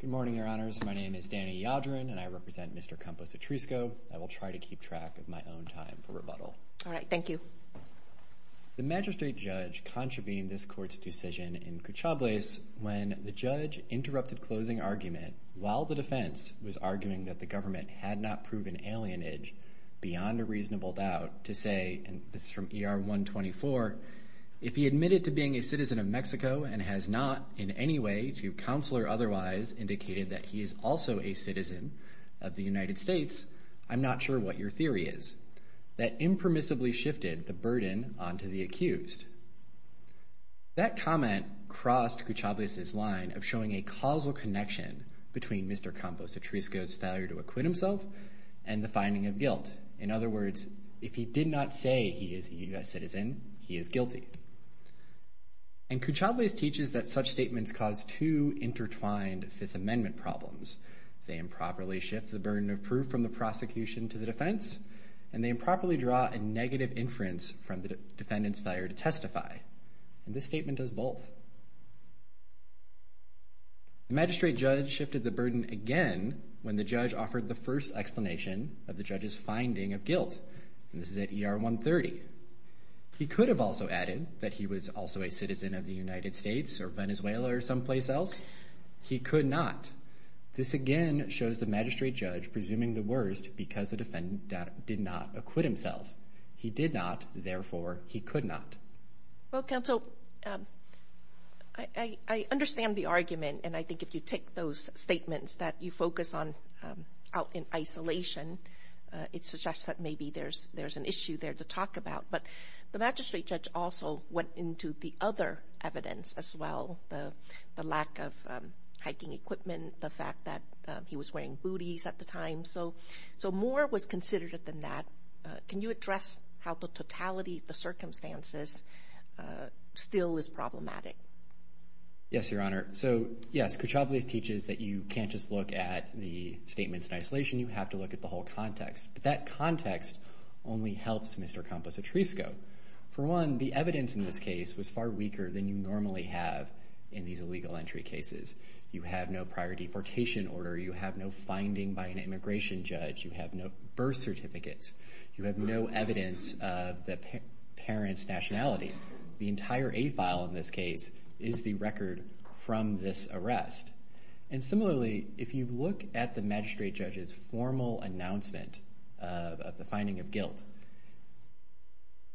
Good morning, Your Honors. My name is Danny Yadrin, and I represent Mr. Campos-Atrisco. I will try to keep track of my own time for rebuttal. All right. Thank you. The magistrate judge contravened this court's decision in Cuchablase when the judge interrupted closing argument while the defense was arguing that the government had not proven alienage beyond a reasonable doubt to say, and this is from ER-124, if he admitted to being a citizen of Mexico and has not in any way, to counsel or otherwise, indicated that he is also a citizen of the United States, I'm not sure what your theory is. That impermissibly shifted the burden onto the accused. That comment crossed Cuchablase's line of showing a causal connection between Mr. Campos-Atrisco's failure to acquit himself and the finding of guilt. In other words, if he did not say he is a U.S. citizen, he is guilty. And Cuchablase teaches that such statements cause two intertwined Fifth Amendment problems. They improperly shift the burden of proof from the prosecution to the defense, and they improperly draw a negative inference from the defendant's failure to testify. And this statement does both. The magistrate judge shifted the burden again when the judge offered the first explanation of the judge's finding of guilt, and this is at ER-130. He could have also added that he was also a citizen of the United States or Venezuela or someplace else. He could not. This again shows the magistrate judge presuming the worst because the defendant did not acquit himself. He did not, therefore he could not. Well, counsel, I understand the argument, and I think if you take those statements that you focus on out in isolation, it suggests that maybe there's an issue there to talk about. But the magistrate judge also went into the other evidence as well, the lack of hiking equipment, the fact that he was wearing booties at the time. So more was considered than that. Can you address how the totality of the circumstances still is problematic? Yes, Your Honor. So, yes, Cochables teaches that you can't just look at the statements in isolation. You have to look at the whole context. But that context only helps Mr. Campos-Atrisco. For one, the evidence in this case was far weaker than you normally have in these illegal entry cases. You have no prior deportation order. You have no finding by an immigration judge. You have no birth certificates. You have no evidence of the parent's nationality. The entire A file in this case is the record from this arrest. And similarly, if you look at the magistrate judge's formal announcement of the finding of guilt,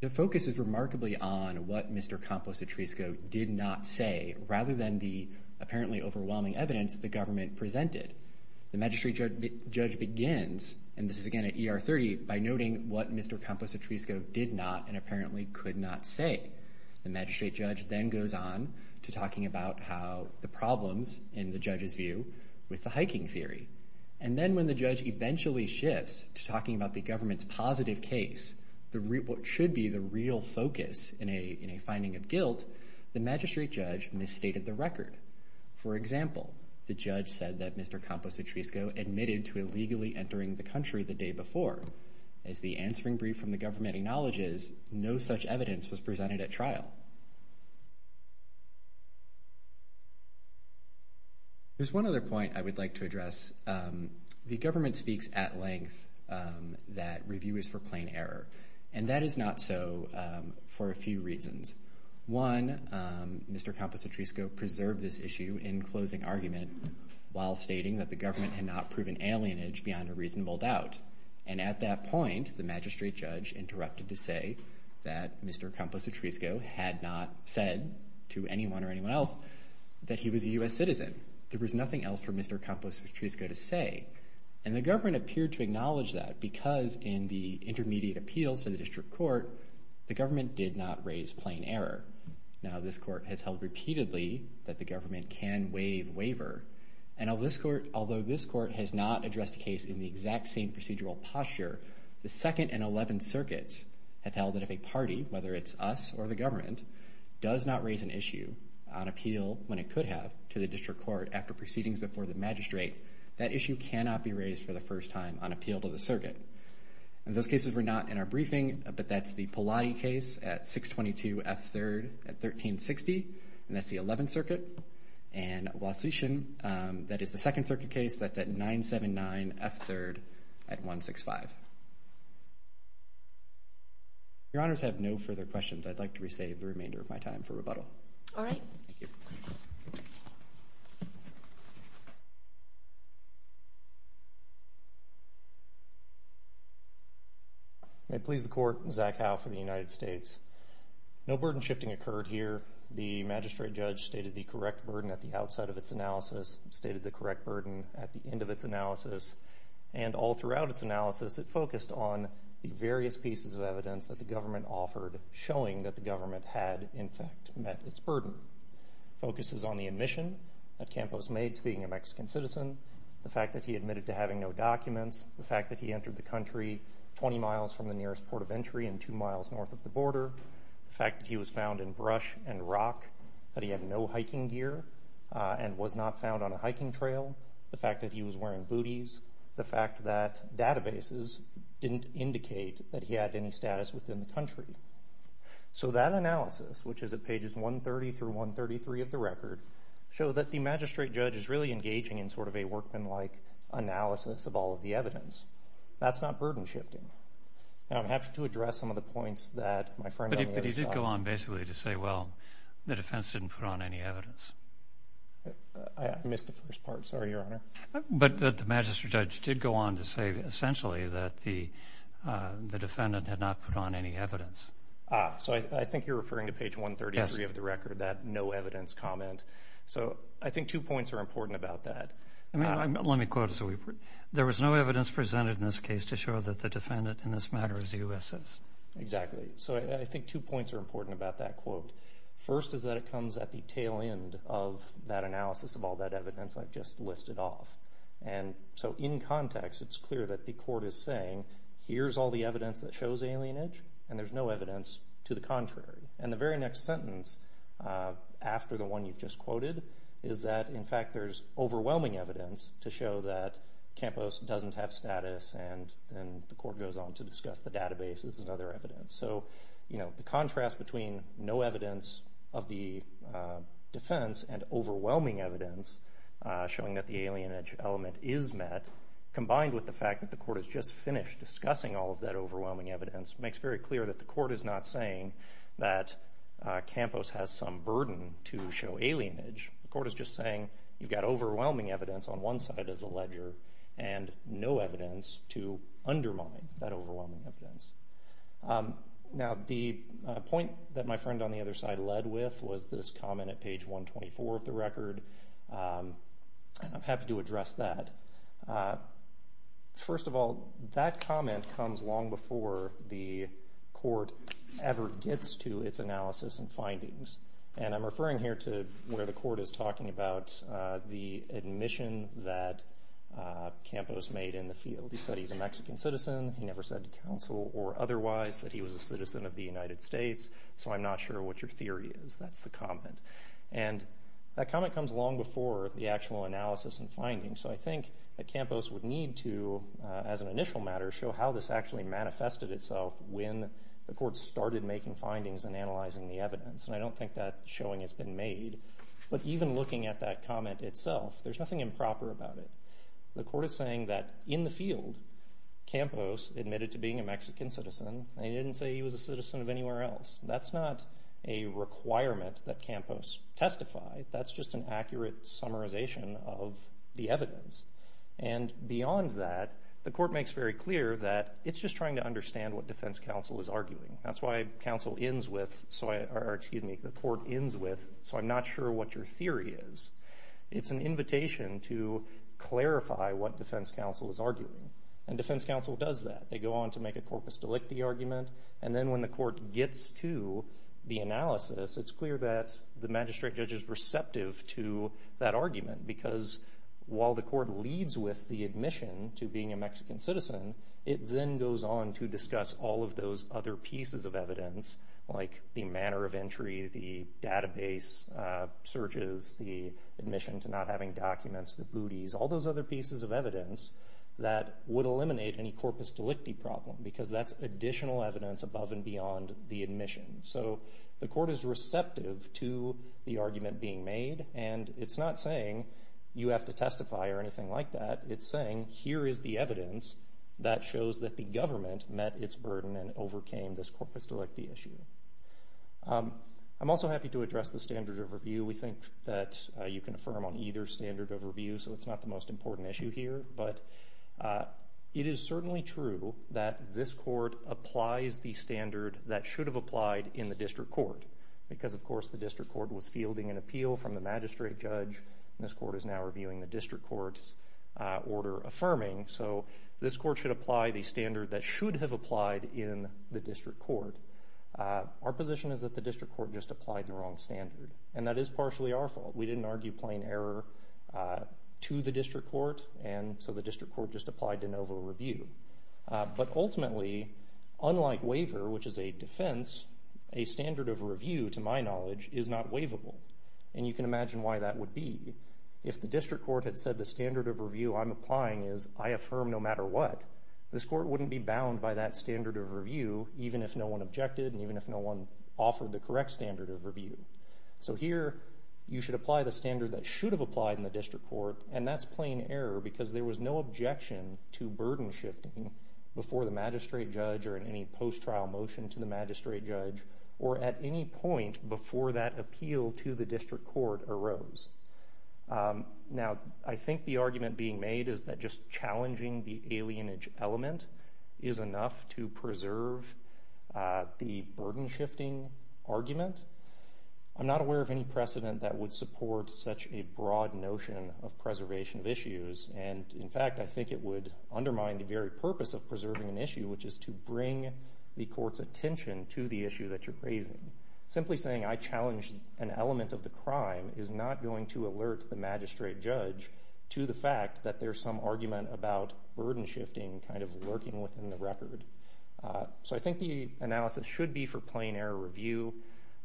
the focus is remarkably on what Mr. Campos-Atrisco did not say, rather than the apparently overwhelming evidence the government presented. The magistrate judge begins, and this is again at ER 30, by noting what Mr. Campos-Atrisco did not and apparently could not say. The magistrate judge then goes on to talking about how the problems, in the judge's view, with the hiking theory. And then when the judge eventually shifts to talking about the government's positive case, what should be the real focus in a finding of guilt, the magistrate judge misstated the record. For example, the judge said that Mr. Campos-Atrisco admitted to illegally entering the country the day before. As the answering brief from the government acknowledges, no such evidence was presented at trial. There's one other point I would like to address. The government speaks at length that review is for plain error, and that is not so for a few reasons. One, Mr. Campos-Atrisco preserved this issue in closing argument while stating that the government had not proven alienage beyond a reasonable doubt. And at that point, the magistrate judge interrupted to say that Mr. Campos-Atrisco had not said to anyone or anyone else that he was a U.S. citizen. There was nothing else for Mr. Campos-Atrisco to say. And the government appeared to acknowledge that because in the intermediate appeals to the district court, the government did not raise plain error. Now, this court has held repeatedly that the government can waive waiver. And although this court has not addressed the case in the exact same procedural posture, the Second and Eleventh Circuits have held that if a party, whether it's us or the government, does not raise an issue on appeal when it could have to the district court after proceedings before the magistrate, that issue cannot be raised for the first time on appeal to the circuit. In those cases, we're not in our briefing, but that's the Pallotti case at 622 F. 3rd at 1360, and that's the Eleventh Circuit. And Walsh-Eachin, that is the Second Circuit case that's at 979 F. 3rd at 165. Your Honors, I have no further questions. I'd like to re-save the remainder of my time for rebuttal. All right. May it please the Court, Zach Howe for the United States. No burden shifting occurred here. The magistrate judge stated the correct burden at the outside of its analysis, stated the correct burden at the end of its analysis, and all throughout its analysis, it focused on the various pieces of evidence that the government offered, showing that the government had, in fact, met its burden. It focuses on the admission that Campos made to being a Mexican citizen, the fact that he admitted to having no documents, the fact that he entered the country 20 miles from the nearest port of entry and two miles north of the border, the fact that he was found in brush and rock, that he had no hiking gear and was not found on a hiking trail, the fact that he was wearing booties, the fact that databases didn't indicate that he had any status within the country. So that analysis, which is at pages 130 through 133 of the record, show that the magistrate judge is really engaging in sort of a workmanlike analysis of all of the evidence. That's not burden shifting. Now, I'm happy to address some of the points that my friend on the other side. But he did go on basically to say, well, the defense didn't put on any evidence. I missed the first part. Sorry, Your Honor. But the magistrate judge did go on to say essentially that the defendant had not put on any evidence. So I think you're referring to page 133 of the record, that no evidence comment. So I think two points are important about that. Let me quote. There was no evidence presented in this case to show that the defendant in this matter is USS. Exactly. So I think two points are important about that quote. First is that it comes at the tail end of that analysis of all that evidence I've just listed off. And so in context, it's clear that the court is saying, here's all the evidence that shows alienage, and there's no evidence to the contrary. And the very next sentence after the one you've just quoted is that, in fact, there's overwhelming evidence to show that Campos doesn't have status, and then the court goes on to discuss the databases and other evidence. So the contrast between no evidence of the defense and overwhelming evidence showing that the alienage element is met, combined with the fact that the court has just finished discussing all of that overwhelming evidence, makes very clear that the court is not saying that Campos has some burden to show alienage. The court is just saying you've got overwhelming evidence on one side of the ledger and no evidence to undermine that overwhelming evidence. Now the point that my friend on the other side led with was this comment at page 124 of the record, and I'm happy to address that. First of all, that comment comes long before the court ever gets to its analysis and findings. And I'm referring here to where the court is talking about the admission that Campos made in the field. He said he's a Mexican citizen. He never said to counsel or otherwise that he was a citizen of the United States, so I'm not sure what your theory is. That's the comment. And that comment comes long before the actual analysis and findings. So I think that Campos would need to, as an initial matter, show how this actually manifested itself when the court started making findings and analyzing the evidence. And I don't think that showing has been made. But even looking at that comment itself, there's nothing improper about it. The court is saying that in the field Campos admitted to being a Mexican citizen and he didn't say he was a citizen of anywhere else. That's not a requirement that Campos testified. That's just an accurate summarization of the evidence. And beyond that, the court makes very clear that it's just trying to understand what defense counsel is arguing. That's why the court ends with, so I'm not sure what your theory is. It's an invitation to clarify what defense counsel is arguing. And defense counsel does that. They go on to make a corpus delicti argument, and then when the court gets to the analysis, it's clear that the magistrate judge is receptive to that argument because while the court leads with the admission to being a Mexican citizen, it then goes on to discuss all of those other pieces of evidence like the manner of entry, the database searches, the admission to not having documents, the booties, all those other pieces of evidence that would eliminate any corpus delicti problem because that's additional evidence above and beyond the admission. So the court is receptive to the argument being made, and it's not saying you have to testify or anything like that. It's saying here is the evidence that shows that the government met its burden and overcame this corpus delicti issue. I'm also happy to address the standard of review. We think that you can affirm on either standard of review, so it's not the most important issue here. But it is certainly true that this court applies the standard that should have applied in the district court because, of course, the district court was fielding an appeal from the magistrate judge. This court is now reviewing the district court's order affirming. So this court should apply the standard that should have applied in the district court. Our position is that the district court just applied the wrong standard, and that is partially our fault. We didn't argue plain error to the district court, and so the district court just applied de novo review. But ultimately, unlike waiver, which is a defense, a standard of review, to my knowledge, is not waivable. And you can imagine why that would be. If the district court had said the standard of review I'm applying is I affirm no matter what, this court wouldn't be bound by that standard of review even if no one objected and even if no one offered the correct standard of review. So here you should apply the standard that should have applied in the district court, and that's plain error because there was no objection to burden shifting before the magistrate judge or in any post-trial motion to the magistrate judge or at any point before that appeal to the district court arose. Now, I think the argument being made is that just challenging the alienage element is enough to preserve the burden shifting argument. I'm not aware of any precedent that would support such a broad notion of preservation of issues. And, in fact, I think it would undermine the very purpose of preserving an issue, which is to bring the court's attention to the issue that you're raising. Simply saying I challenged an element of the crime is not going to alert the magistrate judge to the fact that there's some argument about burden shifting kind of lurking within the record. So I think the analysis should be for plain error review.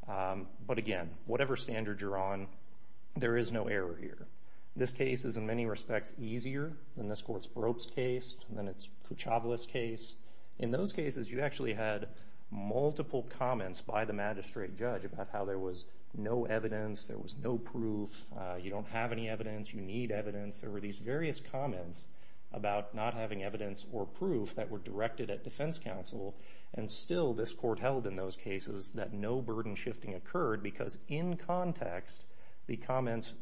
But, again, whatever standard you're on, there is no error here. This case is, in many respects, easier than this court's Brobst case than its Kuchavlis case. In those cases, you actually had multiple comments by the magistrate judge about how there was no evidence, there was no proof, you don't have any evidence, you need evidence. There were these various comments about not having evidence or proof that were directed at defense counsel, and still this court held in those cases that no burden shifting occurred because, in context, the comments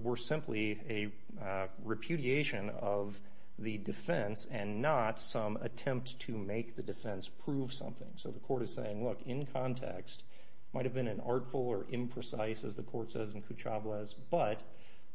were simply a repudiation of the defense and not some attempt to make the defense prove something. So the court is saying, look, in context, it might have been an artful or imprecise, as the court says in Kuchavlis, but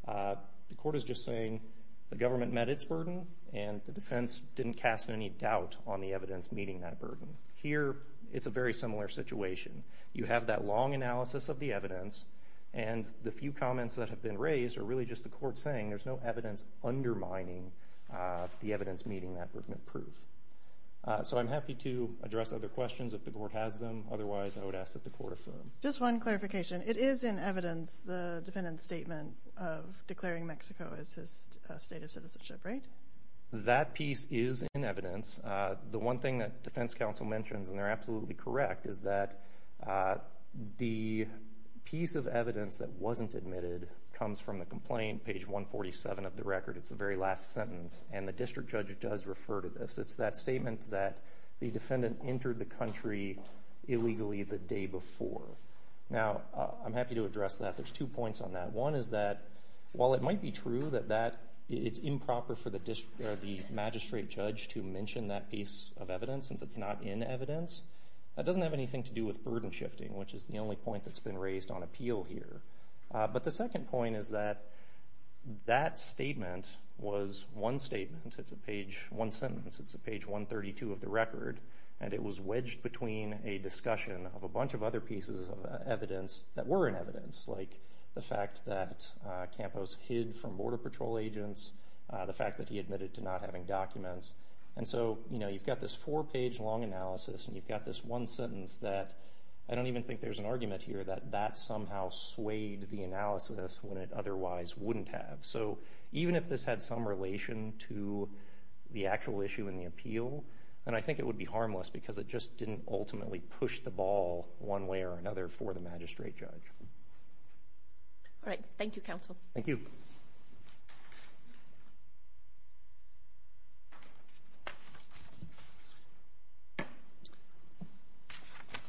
the court is just saying the government met its burden and the defense didn't cast any doubt on the evidence meeting that burden. Here, it's a very similar situation. You have that long analysis of the evidence, and the few comments that have been raised are really just the court saying there's no evidence undermining the evidence meeting that burden of proof. So I'm happy to address other questions if the court has them. Otherwise, I would ask that the court affirm. Just one clarification. It is in evidence, the defendant's statement of declaring Mexico as his state of citizenship, right? That piece is in evidence. The one thing that defense counsel mentions, and they're absolutely correct, is that the piece of evidence that wasn't admitted comes from the complaint, page 147 of the record. It's the very last sentence, and the district judge does refer to this. It's that statement that the defendant entered the country illegally the day before. Now, I'm happy to address that. There's two points on that. One is that while it might be true that it's improper for the magistrate judge to mention that piece of evidence, since it's not in evidence, that doesn't have anything to do with burden shifting, which is the only point that's been raised on appeal here. But the second point is that that statement was one statement. It's one sentence. It's page 132 of the record, and it was wedged between a discussion of a bunch of other pieces of evidence that were in evidence, like the fact that Campos hid from Border Patrol agents, the fact that he admitted to not having documents. And so, you know, you've got this four-page long analysis, and you've got this one sentence that I don't even think there's an argument here that that somehow swayed the analysis when it otherwise wouldn't have. So even if this had some relation to the actual issue in the appeal, then I think it would be harmless because it just didn't ultimately push the ball one way or another for the magistrate judge. All right. Thank you, counsel. Thank you.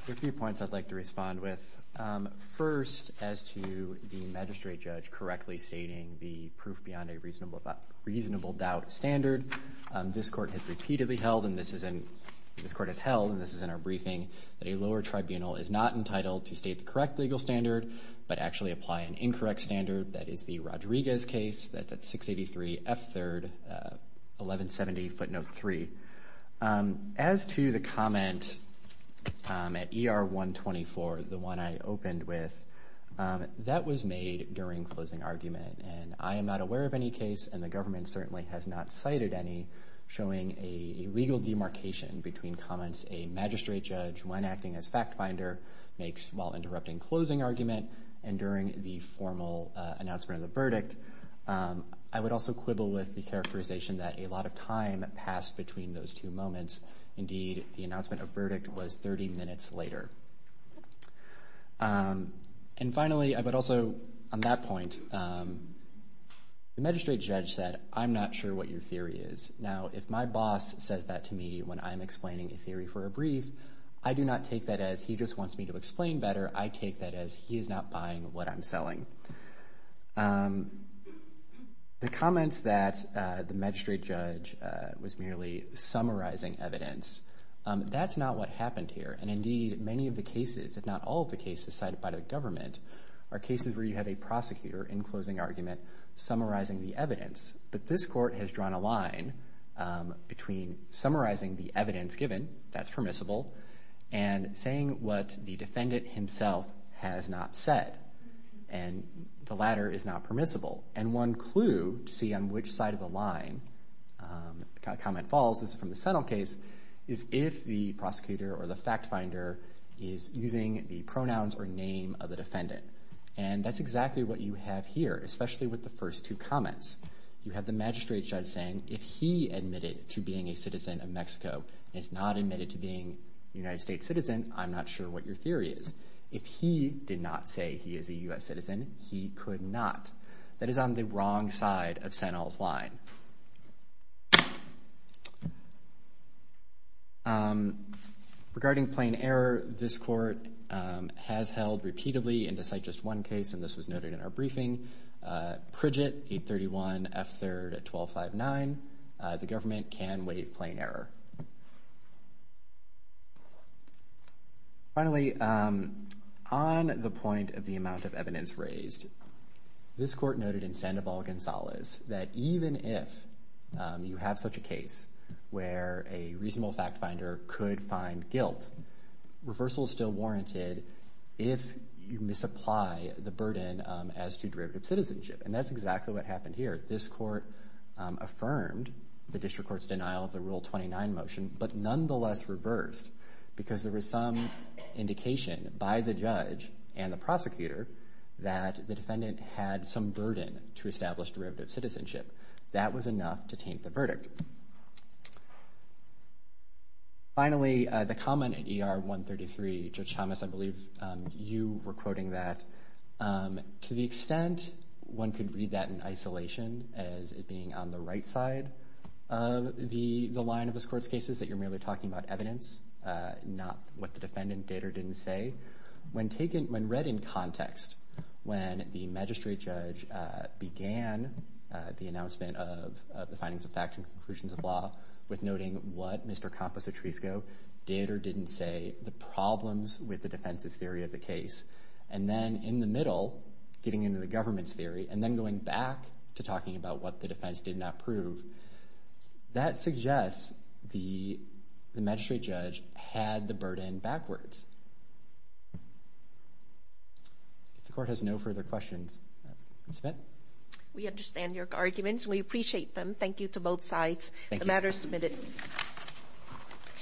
There are a few points I'd like to respond with. First, as to the magistrate judge correctly stating the proof beyond a reasonable doubt standard, this court has held, and this is in our briefing, that a lower tribunal is not entitled to state the correct legal standard but actually apply an incorrect standard. That is the Rodriguez case. That's at 683 F. 3rd, 1170 footnote 3. As to the comment at ER 124, the one I opened with, that was made during closing argument, and I am not aware of any case, and the government certainly has not cited any, showing a legal demarcation between comments a magistrate judge, when acting as fact finder, makes while interrupting closing argument and during the formal announcement of the verdict. I would also quibble with the characterization that a lot of time passed between those two moments. Indeed, the announcement of verdict was 30 minutes later. And finally, but also on that point, the magistrate judge said, I'm not sure what your theory is. Now, if my boss says that to me when I'm explaining a theory for a brief, I do not take that as he just wants me to explain better. I take that as he is not buying what I'm selling. The comments that the magistrate judge was merely summarizing evidence, that's not what happened here. And indeed, many of the cases, if not all of the cases cited by the government, are cases where you have a prosecutor in closing argument summarizing the evidence. But this court has drawn a line between summarizing the evidence given, that's permissible, and saying what the defendant himself has not said, and the latter is not permissible. And one clue to see on which side of the line a comment falls, this is from the Settle case, is if the prosecutor or the fact finder is using the pronouns or name of the defendant. And that's exactly what you have here, especially with the first two comments. You have the magistrate judge saying, if he admitted to being a citizen of Mexico and is not admitted to being a United States citizen, I'm not sure what your theory is. If he did not say he is a U.S. citizen, he could not. That is on the wrong side of Sano's line. Regarding plain error, this court has held repeatedly, and to cite just one case, and this was noted in our briefing, Pridget, 831 F3rd 1259, the government can waive plain error. Finally, on the point of the amount of evidence raised, this court noted in Sandoval-Gonzalez that even if you have such a case where a reasonable fact finder could find guilt, reversal is still warranted if you misapply the burden as to derivative citizenship. And that's exactly what happened here. This court affirmed the district court's denial of the Rule 29 motion, but nonetheless reversed because there was some indication by the judge and the prosecutor that the defendant had some burden to establish derivative citizenship. That was enough to taint the verdict. Finally, the comment in ER 133, Judge Thomas, I believe you were quoting that. To the extent one could read that in isolation as it being on the right side of the line of this court's cases, that you're merely talking about evidence, not what the defendant did or didn't say. When read in context, when the magistrate judge began the announcement of the findings of fact and conclusions of law with noting what Mr. Campos-Otrisco did or didn't say, the problems with the defense's theory of the case. And then in the middle, getting into the government's theory and then going back to talking about what the defense did not prove. That suggests the magistrate judge had the burden backwards. If the court has no further questions, I'll submit. We understand your arguments and we appreciate them. Thank you to both sides. The matter is submitted.